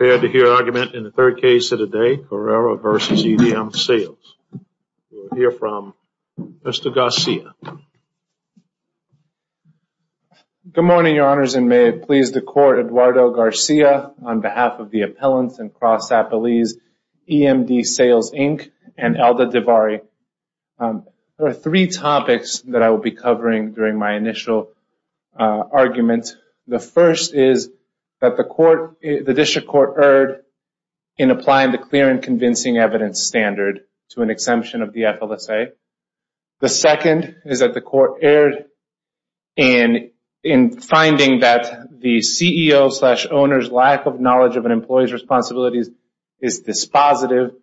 in the third case of the day, Carrera v. E.M.D. Sales. We'll hear from Mr. Garcia. Good morning, Your Honors, and may it please the Court, Eduardo Garcia, on behalf of the appellants and cross-appellees, E.M.D. Sales Inc. and Alda DeVarie. There are three topics that I will be covering during my initial argument. The first is that the District Court erred in applying the clear and convincing evidence standard to an exemption of the FLSA. The second is that the Court erred in finding that the CEO's-slash-owner's lack of knowledge of an employee's responsibilities is dispositive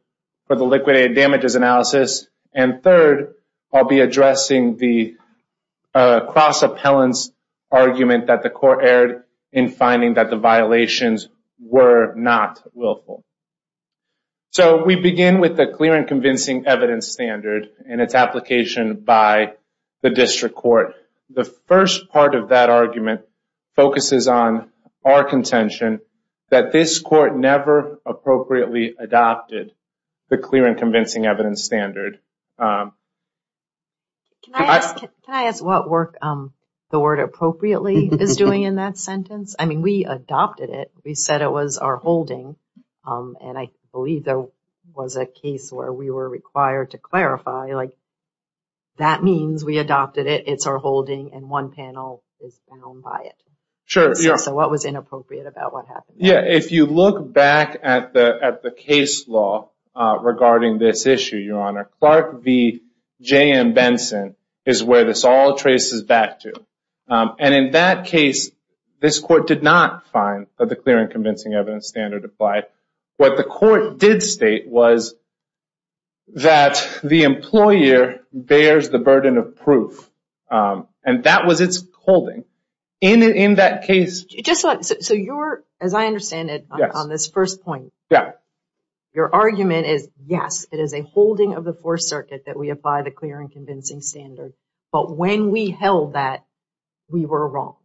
for the liquidated damages analysis. And third, I'll be addressing the cross-appellant's argument that the Court erred in finding that the violations were not willful. So, we begin with the clear and convincing evidence standard and its application by the District Court. The first part of that argument focuses on our contention that this Court never appropriately adopted the clear and convincing evidence standard. Can I ask what work the word appropriately is doing in that sentence? I mean, we adopted it. We said it was our holding, and I believe there was a case where we were required to clarify, like, that means we adopted it, it's our holding, and one panel is down by it. Sure, yeah. So, what was inappropriate about what happened? Yeah, if you look back at the case law regarding this issue, Your Honor, Clark v. J.M. Benson is where this all traces back to. And in that case, this Court did not find that the clear and convincing evidence standard applied. What the Court did state was that the employer bears the burden of proof, and that was its holding. In that case... So, as I understand it, on this first point, your argument is, yes, it is a holding of the Fourth Circuit that we apply the clear and convincing standard, but when we held that, we were wrong.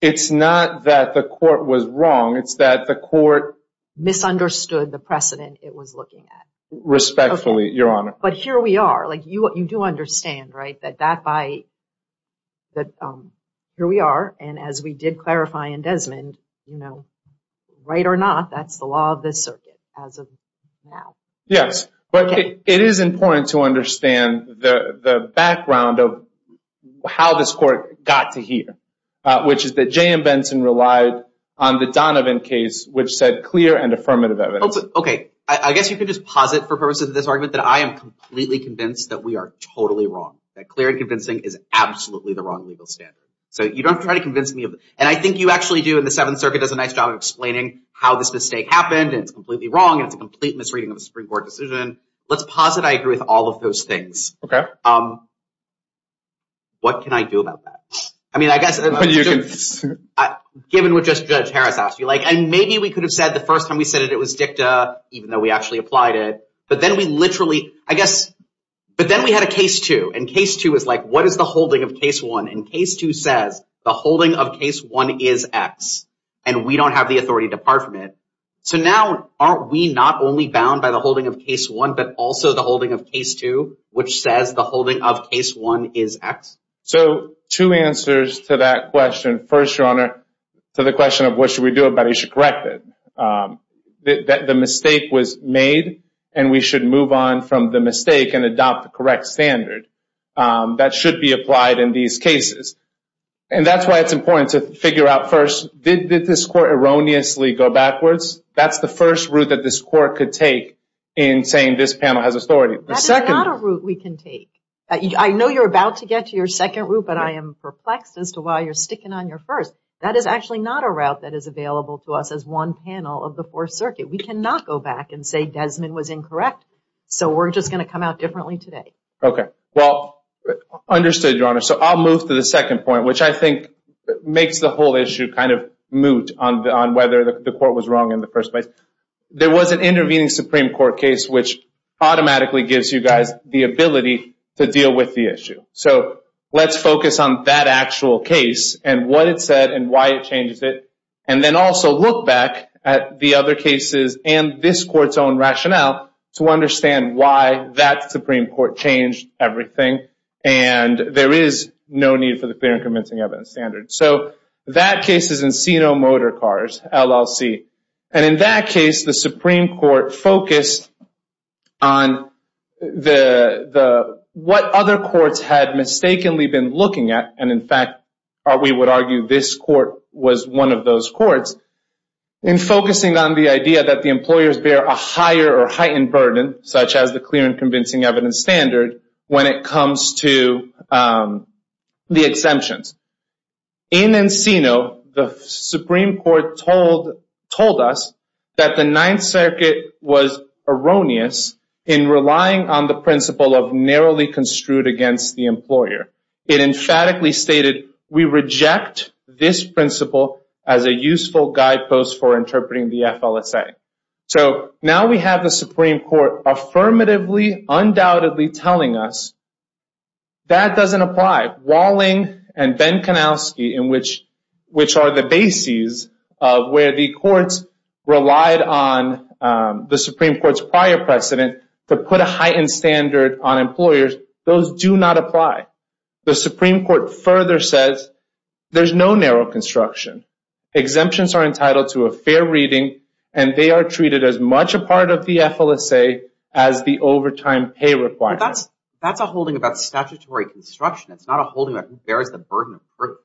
It's not that the Court was wrong, it's that the Court misunderstood the precedent it was looking at. Respectfully, Your Honor. But here we are. You do understand, right, that here we are, and as we did clarify in Desmond, right or not, that's the law of this Circuit as of now. Yes, but it is important to understand the background of how this Court got to here, which is that J.M. Benson relied on the Donovan case, which said clear and affirmative evidence. Okay, I guess you could just posit for purposes of this argument that I am completely convinced that we are totally wrong, that clear and convincing is absolutely the wrong legal standard. So you don't have to try to convince me of it. And I think you actually do, and the Seventh Circuit does a nice job of explaining how this mistake happened, and it's completely wrong, and it's a complete misreading of a Supreme Court decision. Let's posit I agree with all of those things. Okay. What can I do about that? I mean, I guess... Given what just Judge Harris asked you, like, and maybe we could have said the first time we said it was dicta, even though we actually applied it, but then we literally, I guess, but then we had a Case 2, and Case 2 is like, what is the holding of Case 1? And Case 2 says, the holding of Case 1 is X, and we don't have the authority to depart from it. So now, aren't we not only bound by the holding of Case 1, but also the holding of Case 2, which says the holding of Case 1 is X? So, two answers to that question. First, Your Honor, to the extent that the mistake was made, and we should move on from the mistake and adopt the correct standard, that should be applied in these cases. And that's why it's important to figure out first, did this Court erroneously go backwards? That's the first route that this Court could take in saying this panel has authority. The second... That is not a route we can take. I know you're about to get to your second route, but I am perplexed as to why you're sticking on your first. That is actually not a route that is available to us as one panel of the Fourth Circuit. We cannot go back and say Desmond was incorrect. So, we're just going to come out differently today. Okay. Well, understood, Your Honor. So, I'll move to the second point, which I think makes the whole issue kind of moot on whether the Court was wrong in the first place. There was an intervening Supreme Court case, which automatically gives you guys the ability to deal with the issue. So, let's focus on that actual case, and what it said, and why it changed it, and then also look back at the other cases and this Court's own rationale to understand why that Supreme Court changed everything, and there is no need for the clear and convincing evidence standard. So, that case is Encino Motor Cars, LLC. And in that case, the Supreme Court focused on what other courts had mistakenly been looking at, and in fact, we would argue this Court was one of those courts, in focusing on the idea that the employers bear a higher or heightened burden, such as the clear and convincing evidence standard, when it comes to the exemptions. In Encino, the Supreme Court told us that the Ninth Circuit was erroneous in relying on the principle of narrowly construed against the employer. It emphatically stated, we reject this principle as a useful guidepost for interpreting the FLSA. So, now we have the Supreme Court affirmatively, undoubtedly telling us that doesn't apply. Walling and Benkonowski, which are the bases of where the courts relied on the Supreme Court's prior precedent to put a heightened standard on employers, those do not apply. The Supreme Court further says, there's no narrow construction. Exemptions are entitled to a fair reading, and they are treated as much a part of the FLSA as the overtime pay requirement. That's a holding about statutory construction. It's not a holding that bears the burden of proof.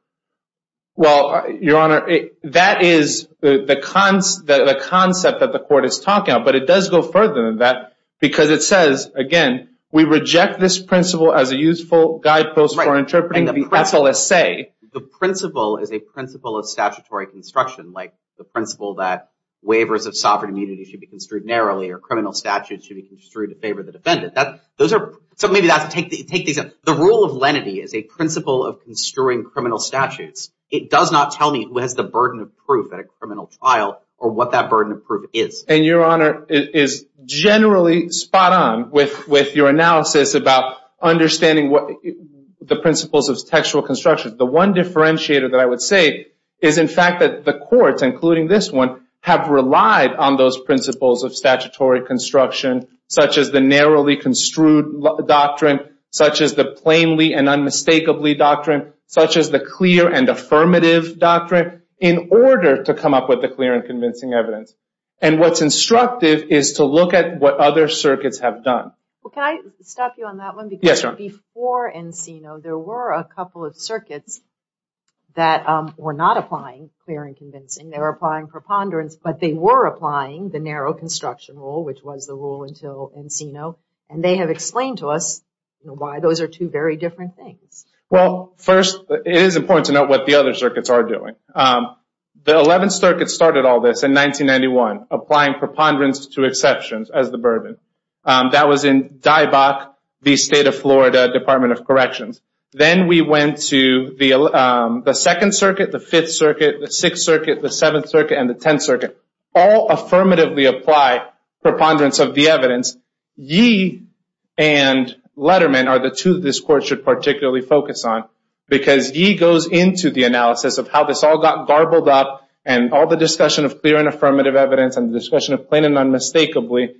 Well, Your Honor, that is the concept that the court is talking about, but it does go further than that, because it says, again, we reject this principle as a useful guidepost for interpreting the FLSA. The principle is a principle of statutory construction, like the principle that waivers of sovereign immunity should be construed narrowly, or criminal statutes should be construed in favor of the defendant. So, maybe that's to take these up. The rule of lenity is a principle of construing criminal statutes. It does not tell me who has the burden of proof at a criminal trial or what that burden of proof is. And, Your Honor, it is generally spot on with your analysis about understanding the principles of textual construction. The one differentiator that I would say is, in fact, that the courts, including this one, have relied on those principles of statutory construction, such as the narrowly construed doctrine, such as the plainly and unmistakably doctrine, such as the clear and affirmative doctrine, in order to come up with the clear and convincing evidence. And what's instructive is to look at what other circuits have done. Well, can I stop you on that one? Yes, Your Honor. Because before Encino, there were a couple of circuits that were not applying clear and convincing. They were applying preponderance, but they were applying the narrow construction rule, which was the rule until Encino, and they have explained to us why those are two very different things. Well, first, it is important to note what the other circuits are doing. The Eleventh Circuit started all this in 1991, applying preponderance to exceptions as the burden. That was in DIBOC, the State of Florida Department of Corrections. Then we went to the Second Circuit, the Fifth Circuit, the Sixth Circuit, the Seventh Circuit, and the Tenth Circuit. All affirmatively apply preponderance of the evidence. Ye and Letterman are the two that this Court should particularly focus on because Ye goes into the analysis of how this all got garbled up and all the discussion of clear and affirmative evidence and the discussion of Plano unmistakably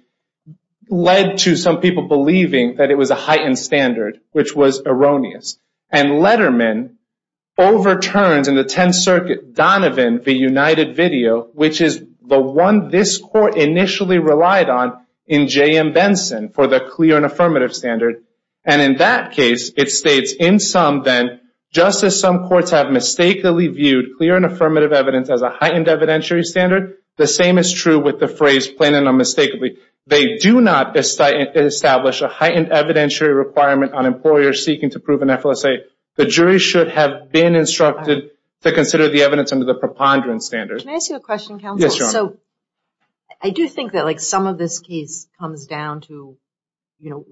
led to some people believing that it was a heightened standard, which was erroneous. And Letterman overturns, in the Tenth Circuit, Donovan v. United Video, which is the one this Court initially relied on in J.M. Benson for the clear and affirmative standard. And in that case, it states, in sum then, just as some courts have mistakenly viewed clear and affirmative evidence as a heightened evidentiary standard, the same is true with the phrase Plano unmistakably. They do not establish a heightened evidentiary requirement on employers seeking to prove an FLSA. The jury should have been instructed to consider the evidence under the preponderance standard. Can I ask you a question, Counsel? Yes, Your Honor. So, I do think that, like, some of this case comes down to, you know,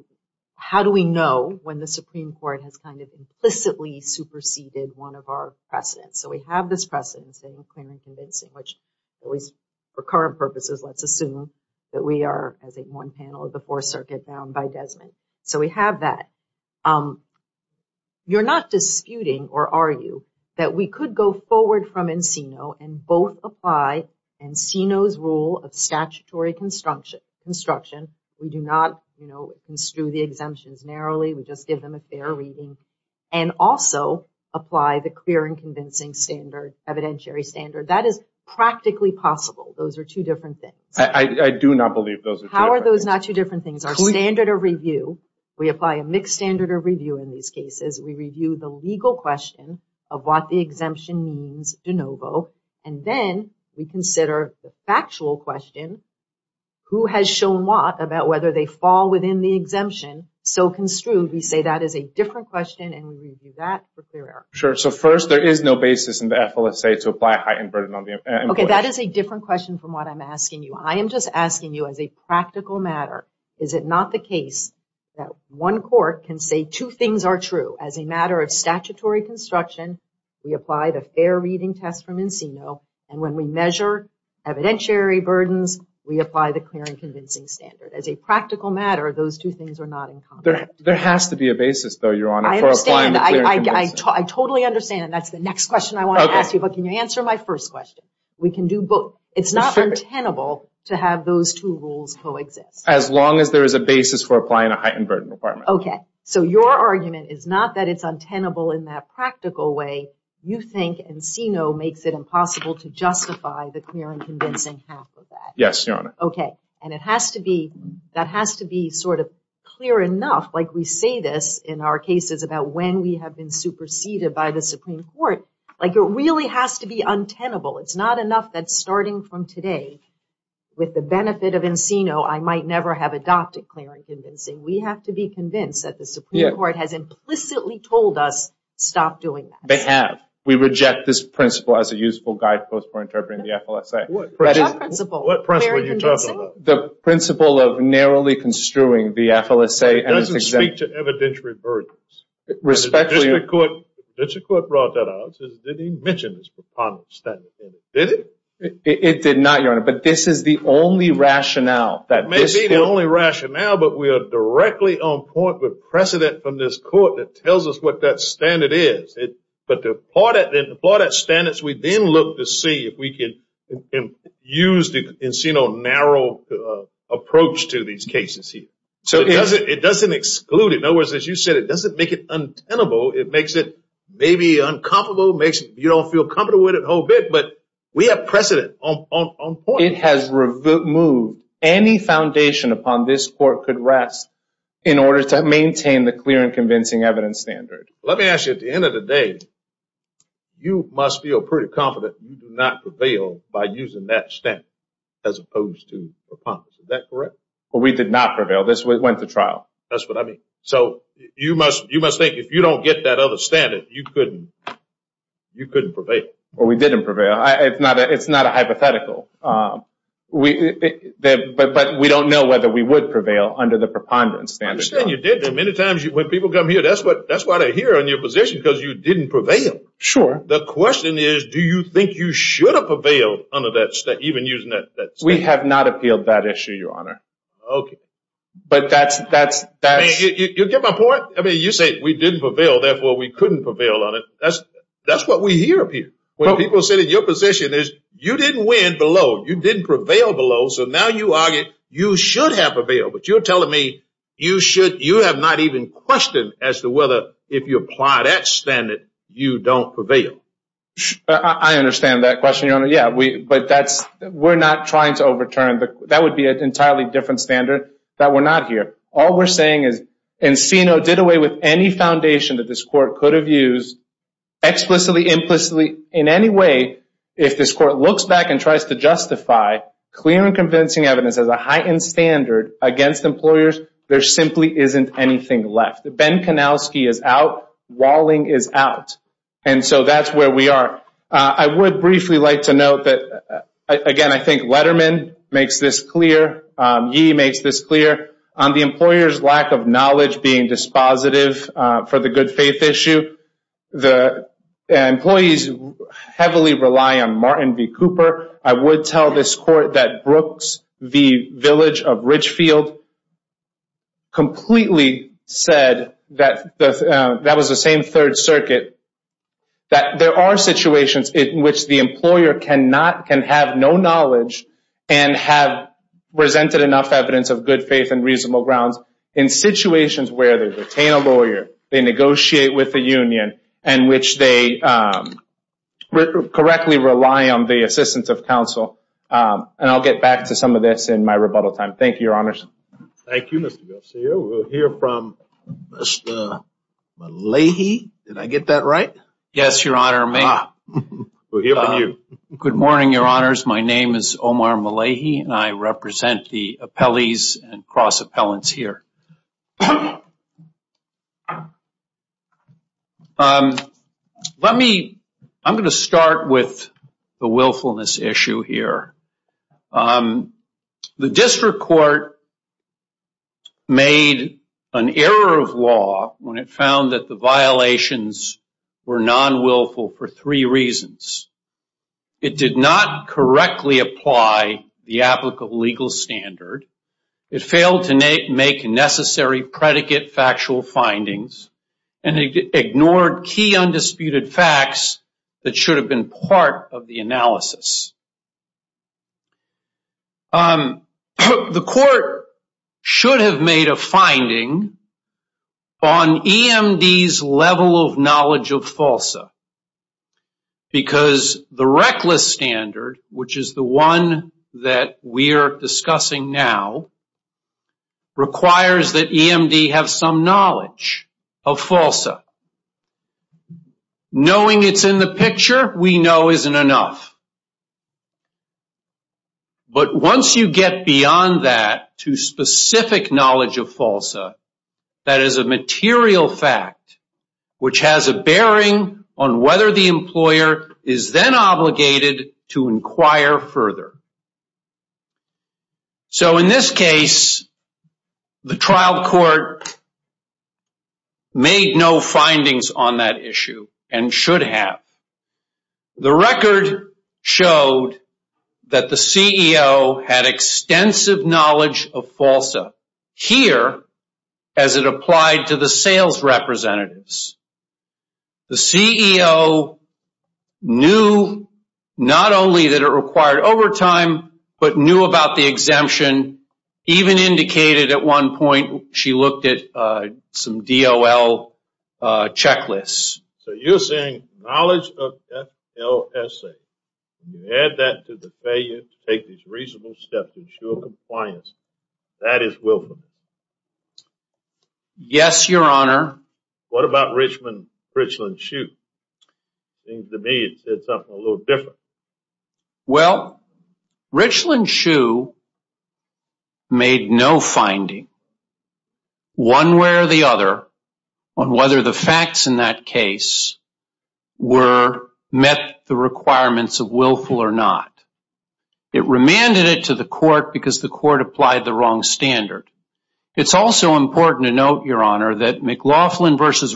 how do we know when the Supreme Court has kind of implicitly superseded one of our precedents? So we have this precedent saying clear and convincing, which, at least for current purposes, let's assume that we are, as in one panel of the Fourth Circuit, bound by Desmond. So we have that. You're not disputing or argue that we could go forward from Encino and both apply Encino's rule of statutory construction. We do not, you know, construe the exemptions narrowly. We just give them a fair reading. And also apply the clear and convincing standard, evidentiary standard. That is practically possible. Those are two different things. I do not believe those are two different things. How are those not two different things? Our standard of review, we apply a mixed standard of review in these cases. We review the legal question of what the exemption means de novo. And then we consider the factual question. Who has shown what about whether they fall within the exemption? So construed, we say that is a different question and we review that for clear error. Sure. So first, there is no basis in the FLSA to apply a heightened burden on the employee. Okay, that is a different question from what I'm asking you. I am just asking you as a two things are true. As a matter of statutory construction, we apply the fair reading test from Encino. And when we measure evidentiary burdens, we apply the clear and convincing standard. As a practical matter, those two things are not in conflict. There has to be a basis though, Your Honor, for applying the clear and convincing standard. I understand. I totally understand. And that is the next question I want to ask you. But can you answer my first question? We can do both. It is not untenable to have those two rules coexist. As long as there is a basis for applying a heightened burden requirement. Okay. So your argument is not that it is untenable in that practical way. You think Encino makes it impossible to justify the clear and convincing half of that. Yes, Your Honor. Okay. And that has to be sort of clear enough, like we say this in our cases about when we have been superseded by the Supreme Court. Like it really has to be untenable. It is not enough that starting from today, with the benefit of Encino, I might never have been convinced that the Supreme Court has implicitly told us stop doing that. They have. We reject this principle as a useful guidepost for interpreting the FLSA. Reject principle? What principle are you talking about? The principle of narrowly construing the FLSA. It doesn't speak to evidentiary burdens. Respectfully. The district court brought that out. Did he mention this preponderance standard? Did he? It did not, Your Honor. But this is the only rationale. It may be the only rationale, but we are directly on point with precedent from this court that tells us what that standard is. But to apply that standard, we then look to see if we can use the Encino narrow approach to these cases. It doesn't exclude it. In other words, as you said, it doesn't make it untenable. It makes it maybe uncomfortable. You don't feel comfortable with it a whole bit, but we have precedent on point. It has removed any foundation upon this court could rest in order to maintain the clear and convincing evidence standard. Let me ask you, at the end of the day, you must feel pretty confident you do not prevail by using that standard as opposed to preponderance. Is that correct? We did not prevail. This went to trial. That's what I mean. So you must think if you don't get that other standard, you couldn't prevail. We didn't prevail. It's not a hypothetical. But we don't know whether we would prevail under the preponderance standard. I understand you did. Many times when people come here, that's why they're here on your position, because you didn't prevail. Sure. The question is, do you think you should have prevailed even using that standard? We have not appealed that issue, Your Honor. Okay. But that's... You get my point? You say we didn't prevail, therefore we couldn't prevail on it. That's what we hear up here when people sit in your position. You didn't win below. You didn't prevail below, so now you argue you should have prevailed. But you're telling me you have not even questioned as to whether, if you apply that standard, you don't prevail. I understand that question, Your Honor. Yeah. But we're not trying to overturn. That would be an entirely different standard that we're not here. All we're saying is Encino did away with any foundation that this Court could have used, explicitly, implicitly, in any way, if this Court looks back and tries to justify clear and convincing evidence as a heightened standard against employers, there simply isn't anything left. Ben Kanowski is out. Walling is out. And so that's where we are. I would briefly like to note that, again, I think Letterman makes this clear. He makes this clear on the employer's lack of knowledge being dispositive for the good faith issue. The employees heavily rely on Martin v. Cooper. I would tell this Court that Brooks v. Village of Ridgefield completely said that that was the same Third Circuit, that there are situations in which the employer can have no knowledge and have presented enough evidence of good faith and reasonable grounds in situations where they retain a lawyer, they negotiate with the union, and which they correctly rely on the assistance of counsel. And I'll get back to some of this in my rebuttal time. Thank you, Your Honors. Thank you, Mr. Garcia. We'll hear from Mr. Leahy. Did I get that right? Yes, Your Honor. Good morning, Your Honors. My name is Omar Malahi, and I represent the appellees and cross-appellants here. I'm going to start with the willfulness issue here. The District Court made an error of law when it found that the violations were non-willful for three reasons. It did not correctly apply the applicable legal standard, it failed to make necessary predicate factual findings, and it ignored key undisputed facts that should have been part of the analysis. The court should have made a finding on EMD's level of knowledge of FALSA, because the reckless standard, which is the one that we are discussing now, requires that EMD have some knowledge of FALSA. Knowing it's in the picture we know isn't enough. But once you get beyond that to specific knowledge of FALSA, that is a material fact which has a bearing on whether the employer is then obligated to inquire further. So in this case, the trial court made no findings on that issue and should have. The record showed that the CEO had extensive knowledge of FALSA. Here, as it applied to but knew about the exemption, even indicated at one point she looked at some DOL checklists. So you're saying knowledge of FALSA, add that to the failure to take these reasonable steps to ensure compliance, that is willfulness? Yes, Your Honor. What about Richland Shoot? Seems to me it said something a little different. Well, Richland Shoe made no finding, one way or the other, on whether the facts in that case met the requirements of willful or not. It remanded it to the court because the court applied the wrong standard. It's also important to note, Your Honor, that McLaughlin versus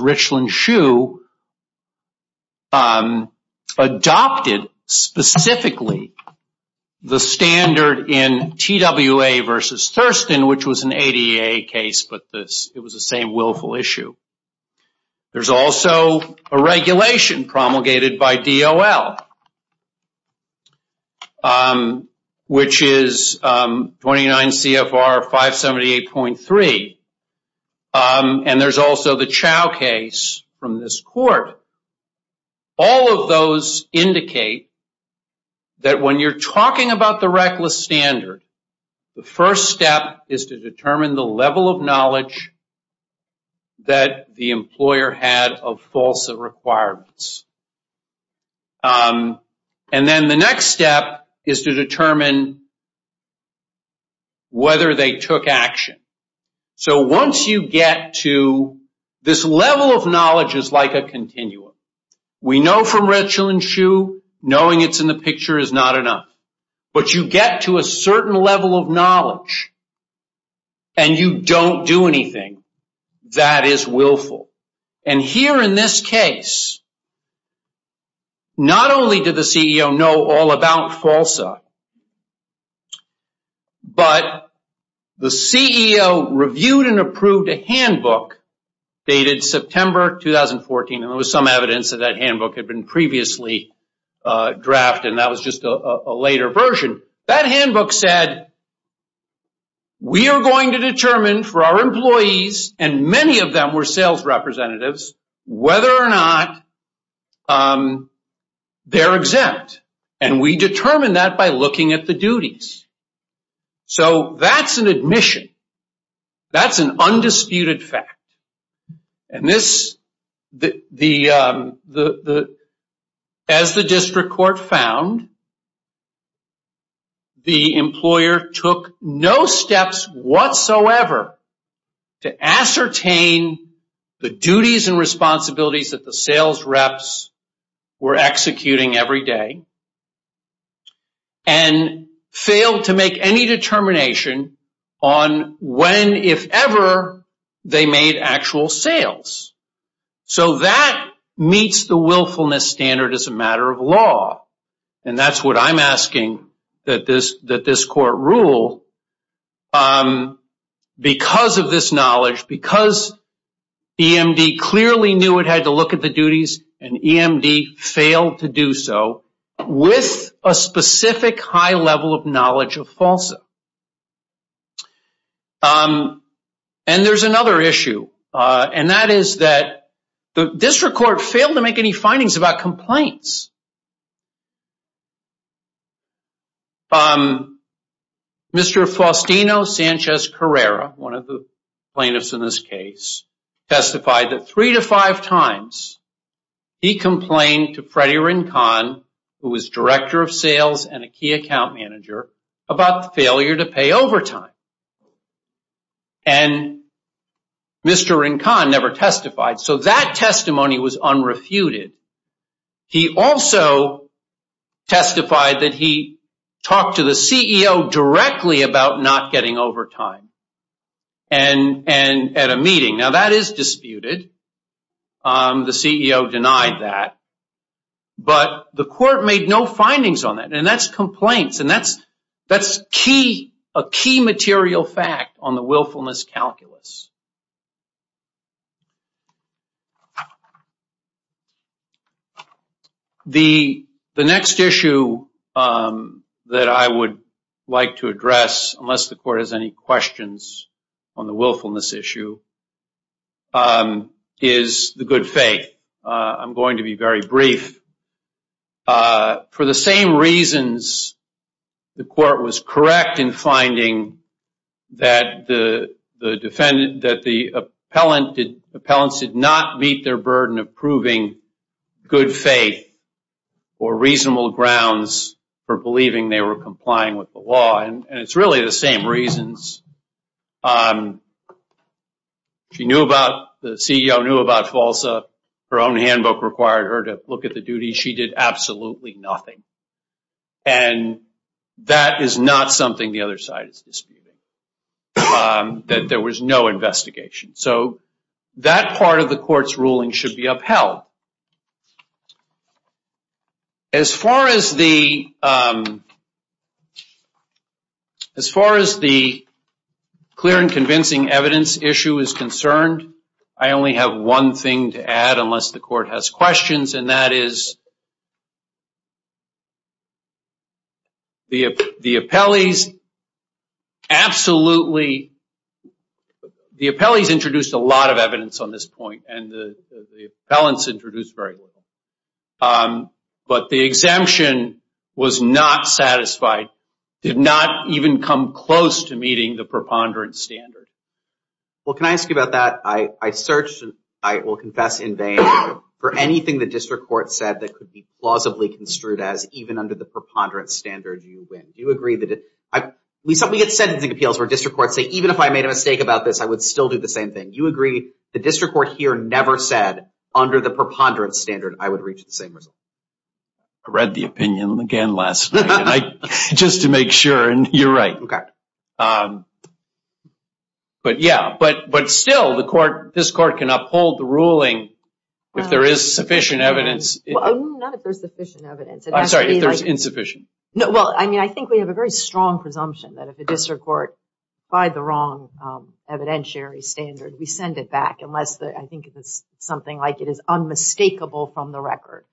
specifically the standard in TWA versus Thurston, which was an ADA case, but it was the same willful issue. There's also a regulation promulgated by DOL, which is 29 CFR 578.3. And there's also the Chow case from this court. All of those indicate that when you're talking about the reckless standard, the first step is to determine the level of knowledge that the employer had of FALSA requirements. And then the next step is to determine whether they took action. So once you get to this level of knowledge is like a continuum. We know from Richland Shoe, knowing it's in the picture is not enough. But you get to a certain level of knowledge and you don't do anything that is willful. And here in this case, not only did the CEO know all about FALSA, but the CEO reviewed and approved a handbook dated September 2014. And there was some evidence that that handbook had been previously drafted, and that was just a later version. That handbook said, We are going to determine for our employees, and many of them were sales representatives, whether or not they're exempt. And we determine that by looking at the duties. So that's an admission. That's an undisputed fact. And as the district court found, the employer took no steps whatsoever to ascertain the duties and responsibilities that the sales reps were executing every day and failed to make any determination on when, if ever, they made actual sales. So that meets the willfulness standard as a matter of law. And that's what I'm asking that this court rule. Because of this knowledge, because EMD clearly knew it had to look at the duties, and EMD failed to do so with a specific high level of knowledge of FALSA. And there's another issue, and that is that the district court failed to make any findings about complaints. Mr. Faustino Sanchez Carrera, one of the plaintiffs in this case, testified that three to five times he complained to Freddie Rincon, who was director of sales and a key account manager, about the failure to pay overtime. And Mr. Rincon never testified. So that testimony was unrefuted. He also testified that he talked to the CEO directly about not getting overtime at a meeting. Now that is disputed. The CEO denied that. But the court made no findings on that. And that's complaints. And that's a key material fact on the willfulness calculus. The next issue that I would like to address, unless the court has any questions on the willfulness issue, is the good faith. I'm going to be very brief. For the same reasons, the court was correct in finding that the appellants did not meet their burden of proving good faith or reasonable grounds for believing they were complying with the law. And it's really the same reasons. The CEO knew about FALSA. Her own handbook required her to look at the duties. She did absolutely nothing. And that is not something the other side is disputing, that there was no investigation. So that part of the court's ruling should be upheld. As far as the clear and convincing evidence issue is concerned, I only have one thing to add, unless the court has questions. And that is, the appellees introduced a lot of evidence on this point. And the appellants introduced very little. But the exemption was not satisfied, did not even come close to meeting the preponderance standard. Well, can I ask you about that? I searched, and I will confess in vain, for anything the district court said that could be plausibly construed as, even under the preponderance standard, you win. Do you agree? We get sentencing appeals where district courts say, even if I made a mistake about this, I would still do the same thing. Do you agree the district court here never said, under the preponderance standard, I would reach the same result? I read the opinion again last night, just to make sure, and you're right. But yeah, but still, this court can uphold the ruling if there is sufficient evidence. Not if there's sufficient evidence. I'm sorry, if there's insufficient. Well, I mean, I think we have a very strong presumption that if the district court by the wrong evidentiary standard, we send it back, unless I think it is something like it is unmistakable from the record.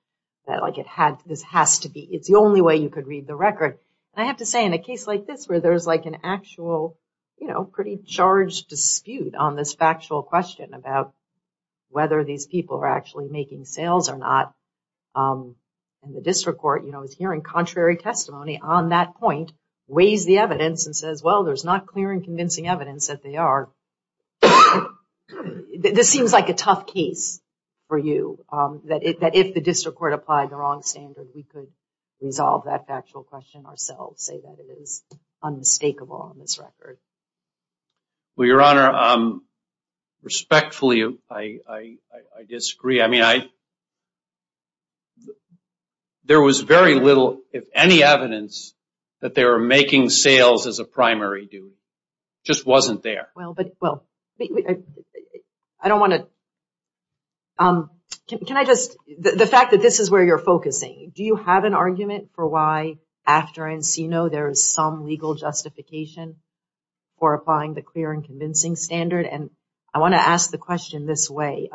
That like it had, this has to be, it's the only way you could read the record. I have to say, in a case like this, where there's like an actual, you know, pretty charged dispute on this factual question about whether these people are actually making sales or not, and the district court, you know, is hearing contrary testimony on that point, weighs the evidence and says, well, there's not clear and convincing evidence that they are. This seems like a tough case for you, that if the district court applied the wrong standard, we could resolve that factual question ourselves, say that it is unmistakable on this record. Well, Your Honor, respectfully, I disagree. I mean, there was very little, if any, evidence that they were making sales as a primary duty. It just wasn't there. Well, but, well, I don't want to, can I just, the fact that this is where you're focusing, do you have an argument for why after Encino there is some legal justification for applying the clear and convincing standard? And I want to ask the question this way.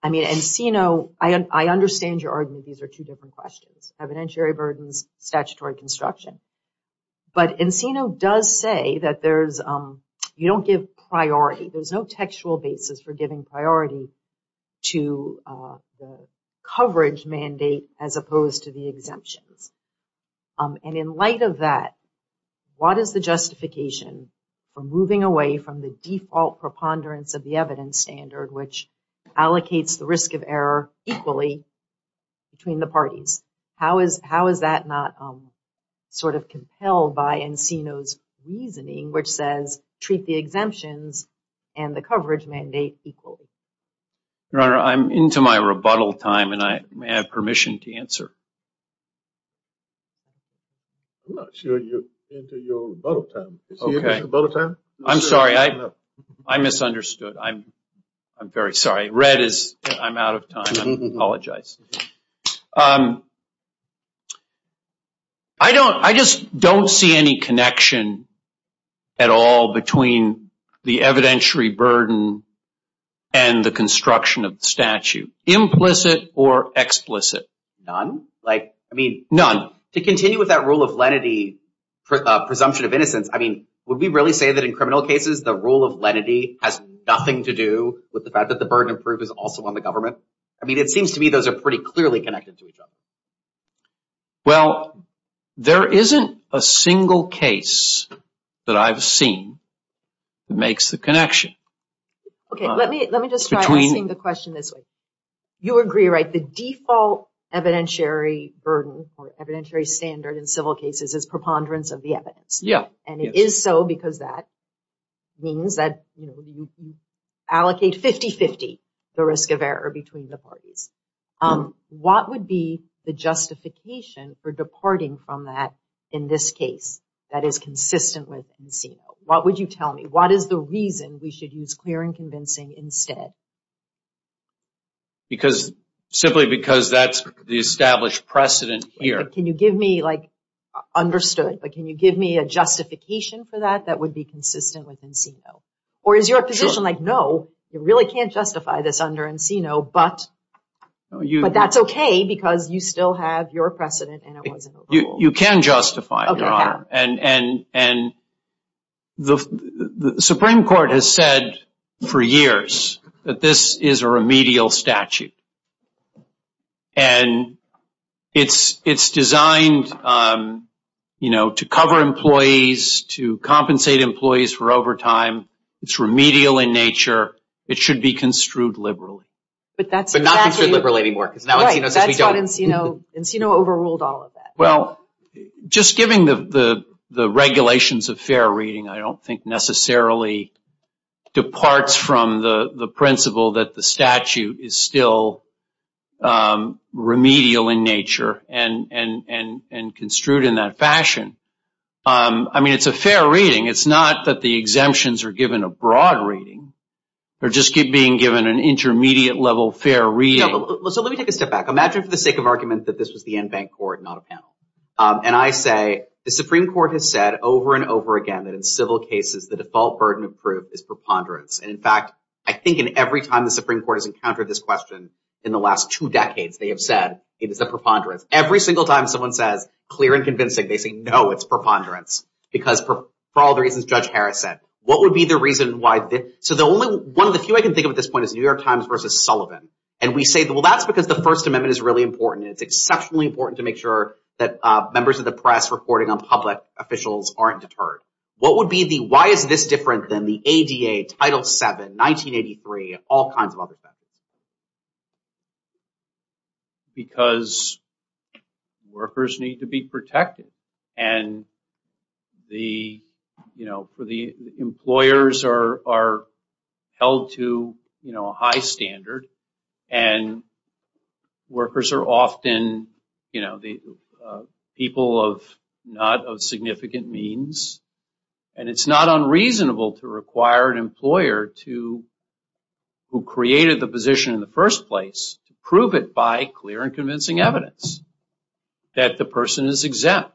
I mean, Encino, I understand your argument. These are two different questions, evidentiary burdens, statutory construction. But Encino does say that there's, you don't give priority. There's no textual basis for giving priority to the coverage mandate as opposed to the exemptions. And in light of that, what is the justification for moving away from the default preponderance of the evidence standard, which allocates the risk of error equally between the parties? How is that not sort of compelled by Encino's reasoning, which says treat the exemptions and the coverage mandate equally? Your Honor, I'm into my rebuttal time, and I may have permission to answer. I'm not sure you're into your rebuttal time. Is he into his rebuttal time? I'm sorry. I misunderstood. I'm very sorry. Red is, I'm out of time. I apologize. I just don't see any connection at all between the evidentiary burden and the construction of the statute, implicit or explicit. None? Like, I mean, none. To continue with that rule of lenity, presumption of innocence, I mean, would we really say that in criminal cases, the rule of lenity has nothing to do with the fact that the burden of proof is also on the government? I mean, it seems to me those are pretty clearly connected to each other. Well, there isn't a single case that I've seen that makes the connection. Okay, let me just try asking the question this way. You agree, right, the default evidentiary burden or evidentiary standard in civil cases is preponderance of the evidence. Yeah. And it is so because that means that, you know, you allocate 50-50 the risk of error between the parties. What would be the justification for departing from that in this case that is consistent with Encino? What would you tell me? What is the reason we should use clear and convincing instead? Because simply because that's the established precedent here. Can you give me, like, understood? Can you give me a justification for that that would be consistent with Encino? Or is your position like, no, you really can't justify this under Encino, but that's okay because you still have your precedent and it wasn't a rule. You can justify it, Your Honor. Okay, I can. And the Supreme Court has said for years that this is a remedial statute. And it's designed, you know, to cover employees, to compensate employees for overtime. It's remedial in nature. It should be construed liberally. But not construed liberally anymore because now Encino says we don't. Right, that's why Encino overruled all of that. Well, just given the regulations of fair reading, I don't think necessarily departs from the principle that the statute is still remedial in nature and construed in that fashion. I mean, it's a fair reading. It's not that the exemptions are given a broad reading. They're just being given an intermediate level fair reading. So let me take a step back. Imagine for the sake of argument that this was the en banc court, not a panel. And I say the Supreme Court has said over and over again that in civil cases, the default burden of proof is preponderance. And, in fact, I think in every time the Supreme Court has encountered this question in the last two decades, they have said it is a preponderance. Every single time someone says clear and convincing, they say, no, it's preponderance. Because for all the reasons Judge Harris said, what would be the reason why this? So the only one of the few I can think of at this point is New York Times versus Sullivan. And we say, well, that's because the First Amendment is really important. And it's exceptionally important to make sure that members of the press reporting on public officials aren't deterred. What would be the why is this different than the ADA, Title VII, 1983, all kinds of other factors? Because workers need to be protected. And the employers are held to a high standard. And workers are often people not of significant means. And it's not unreasonable to require an employer who created the position in the first place to prove it by clear and convincing evidence that the person is exempt.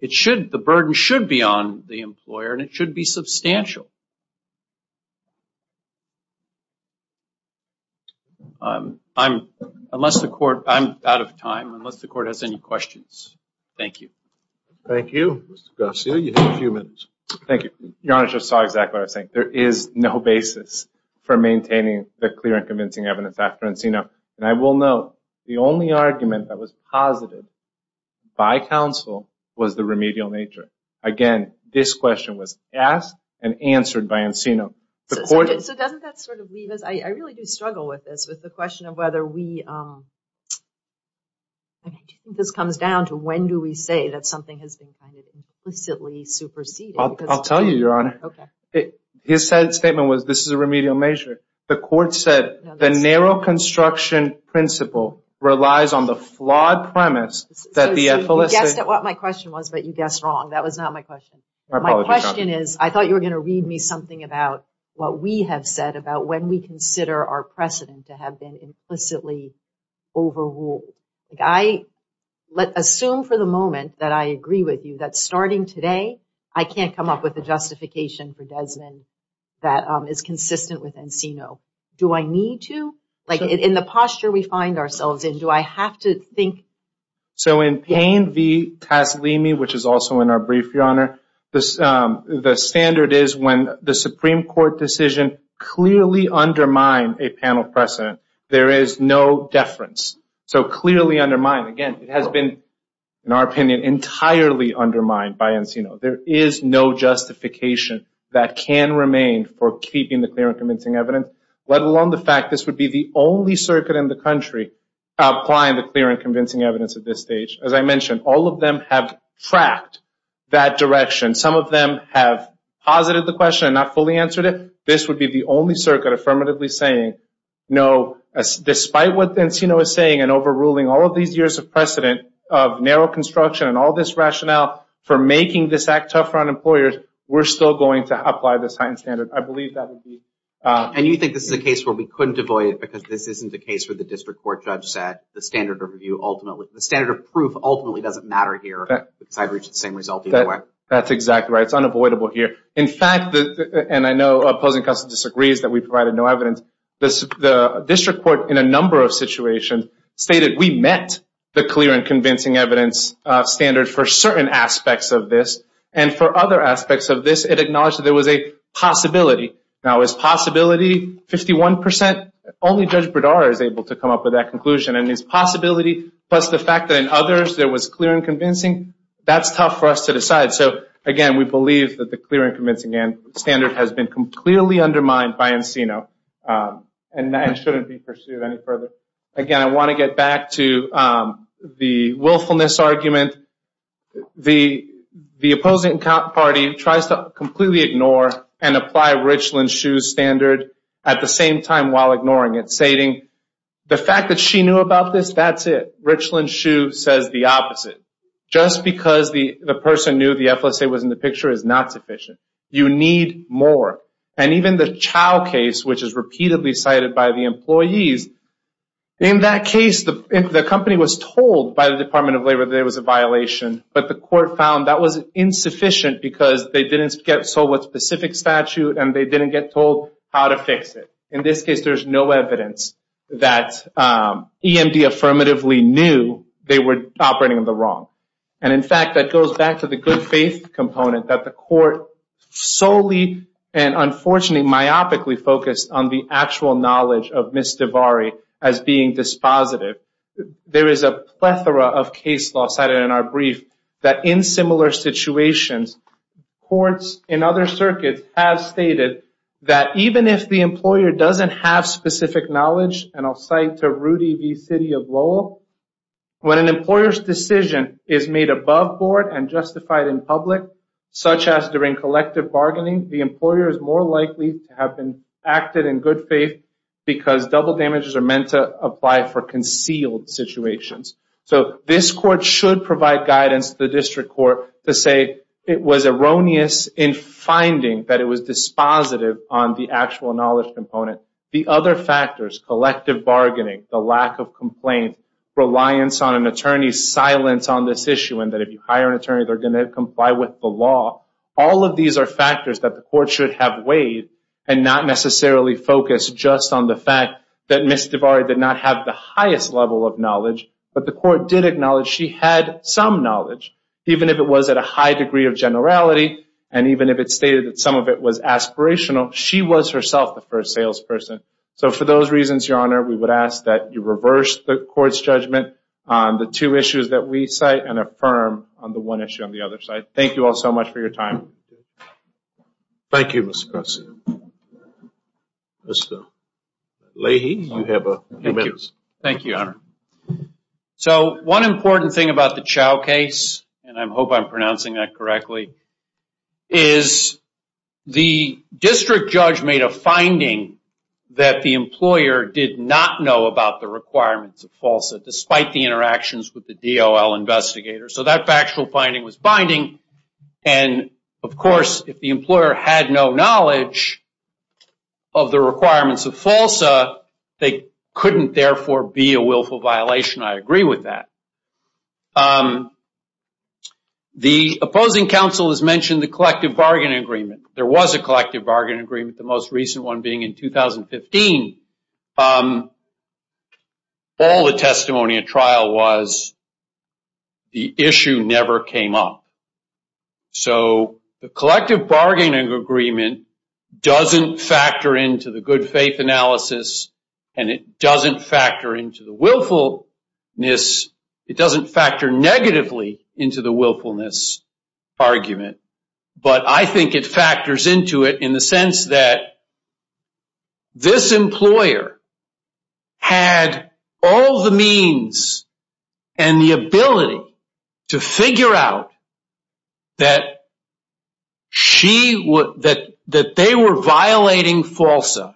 The burden should be on the employer, and it should be substantial. I'm out of time, unless the Court has any questions. Thank you. Thank you, Mr. Garcia. You have a few minutes. Thank you. Your Honor, I just saw exactly what I was saying. There is no basis for maintaining the clear and convincing evidence after Encino. And I will note, the only argument that was posited by counsel was the remedial nature. Again, this question was asked and answered by Encino. So doesn't that sort of leave us, I really do struggle with this, with the question of whether we, I think this comes down to when do we say that something has been kind of implicitly superseded? I'll tell you, Your Honor. His statement was, this is a remedial measure. The Court said, the narrow construction principle relies on the flawed premise that the ethicalist... You guessed at what my question was, but you guessed wrong. That was not my question. My question is, I thought you were going to read me something about what we have said about when we consider our precedent to have been implicitly overruled. I assume for the moment that I agree with you that starting today, I can't come up with a justification for Desmond that is consistent with Encino. Do I need to? In the posture we find ourselves in, do I have to think... So in Payne v. Taslimi, which is also in our brief, Your Honor, the standard is when the Supreme Court decision clearly undermined a panel precedent, there is no deference. So clearly undermined. Again, it has been, in our opinion, entirely undermined by Encino. There is no justification that can remain for keeping the clear and convincing evidence, let alone the fact this would be the only circuit in the country applying the clear and convincing evidence at this stage. As I mentioned, all of them have tracked that direction. Some of them have posited the question and not fully answered it. This would be the only circuit affirmatively saying, no, despite what Encino is saying and overruling all of these years of precedent of narrow construction and all this rationale for making this act tougher on employers, we're still going to apply this heightened standard. I believe that would be... And you think this is a case where we couldn't avoid it because this isn't a case where the district court judge said the standard of review ultimately... The standard of proof ultimately doesn't matter here because I'd reach the same result either way. That's exactly right. It's unavoidable here. In fact, and I know opposing counsel disagrees that we provided no evidence, the district court in a number of situations stated we met the clear and convincing evidence standard for certain aspects of this. And for other aspects of this, it acknowledged that there was a possibility. Now, is possibility 51%? Only Judge Berdara is able to come up with that conclusion. And is possibility plus the fact that in others there was clear and convincing? That's tough for us to decide. So, again, we believe that the clear and convincing standard has been completely undermined by Encino and shouldn't be pursued any further. Again, I want to get back to the willfulness argument. The opposing party tries to completely ignore and apply Richland-Schuh standard at the same time while ignoring it, stating the fact that she knew about this, that's it. Richland-Schuh says the opposite. Just because the person knew the FSA was in the picture is not sufficient. You need more. And even the Chow case, which is repeatedly cited by the employees, in that case the company was told by the Department of Labor that it was a violation, but the court found that was insufficient because they didn't get sold with specific statute and they didn't get told how to fix it. In this case, there's no evidence that EMD affirmatively knew they were operating in the wrong. And, in fact, that goes back to the good faith component that the court solely and unfortunately myopically focused on the actual knowledge of Ms. DeVarie as being dispositive. There is a plethora of case law cited in our brief that in similar situations, courts in other circuits have stated that even if the employer doesn't have specific knowledge, and I'll cite to Rudy v. City of Lowell, when an employer's decision is made above board and justified in public, such as during collective bargaining, the employer is more likely to have acted in good faith because double damages are meant to apply for concealed situations. So this court should provide guidance to the district court to say it was erroneous in finding that it was dispositive on the actual knowledge component. The other factors, collective bargaining, the lack of complaint, reliance on an attorney, silence on this issue, and that if you hire an attorney they're going to comply with the law, all of these are factors that the court should have weighed and not necessarily focus just on the fact that Ms. DeVarie did not have the highest level of knowledge, but the court did acknowledge she had some knowledge, even if it was at a high degree of generality, and even if it stated that some of it was aspirational, she was herself the first salesperson. So for those reasons, Your Honor, we would ask that you reverse the court's judgment on the two issues that we cite and affirm on the one issue on the other side. Thank you all so much for your time. Thank you, Mr. Carson. Mr. Leahy, you have a few minutes. Thank you, Your Honor. So one important thing about the Chao case, and I hope I'm pronouncing that correctly, is the district judge made a finding that the employer did not know about the requirements of FALSA, despite the interactions with the DOL investigators. So that factual finding was binding. And, of course, if the employer had no knowledge of the requirements of FALSA, they couldn't therefore be a willful violation. I agree with that. The opposing counsel has mentioned the collective bargaining agreement. There was a collective bargaining agreement, the most recent one being in 2015. All the testimony at trial was the issue never came up. So the collective bargaining agreement doesn't factor into the good faith analysis, and it doesn't factor into the willfulness. It doesn't factor negatively into the willfulness argument, but I think it factors into it in the sense that this employer had all the means and the ability to figure out that they were violating FALSA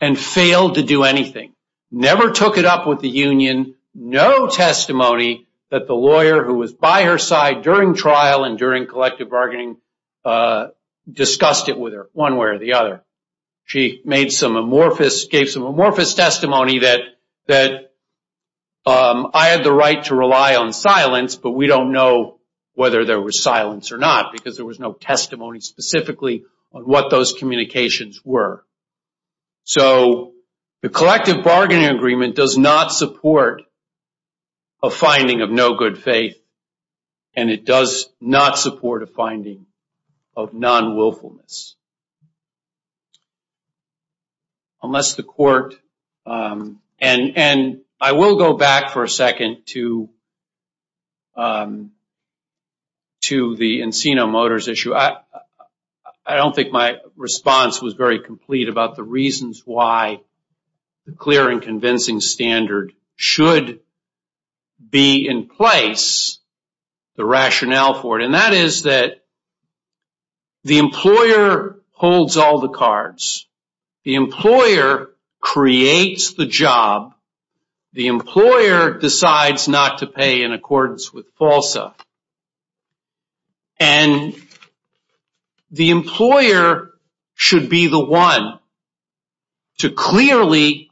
and failed to do anything. Never took it up with the union. No testimony that the lawyer who was by her side during trial and during collective bargaining discussed it with her, one way or the other. She gave some amorphous testimony that I had the right to rely on silence, but we don't know whether there was silence or not, because there was no testimony specifically on what those communications were. So the collective bargaining agreement does not support a finding of no good faith, and it does not support a finding of non-willfulness. I will go back for a second to the Encino Motors issue. I don't think my response was very complete about the reasons why the clear and convincing standard should be in place, the rationale for it, and that is that the employer holds all the cards. The employer creates the job. The employer decides not to pay in accordance with FALSA, and the employer should be the one to clearly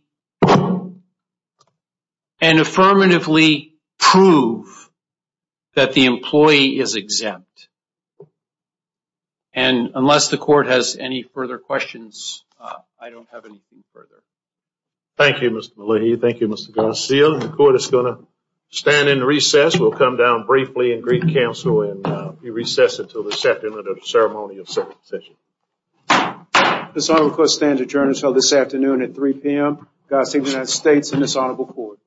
and affirmatively prove that the employee is exempt. And unless the court has any further questions, I don't have anything further. Thank you, Mr. Malihi. Thank you, Mr. Garcia. The court is going to stand in recess. We'll come down briefly and greet counsel, and we recess until the second of the ceremony of circumcision. This honorable court stands adjourned until this afternoon at 3 p.m. God save the United States and this honorable court.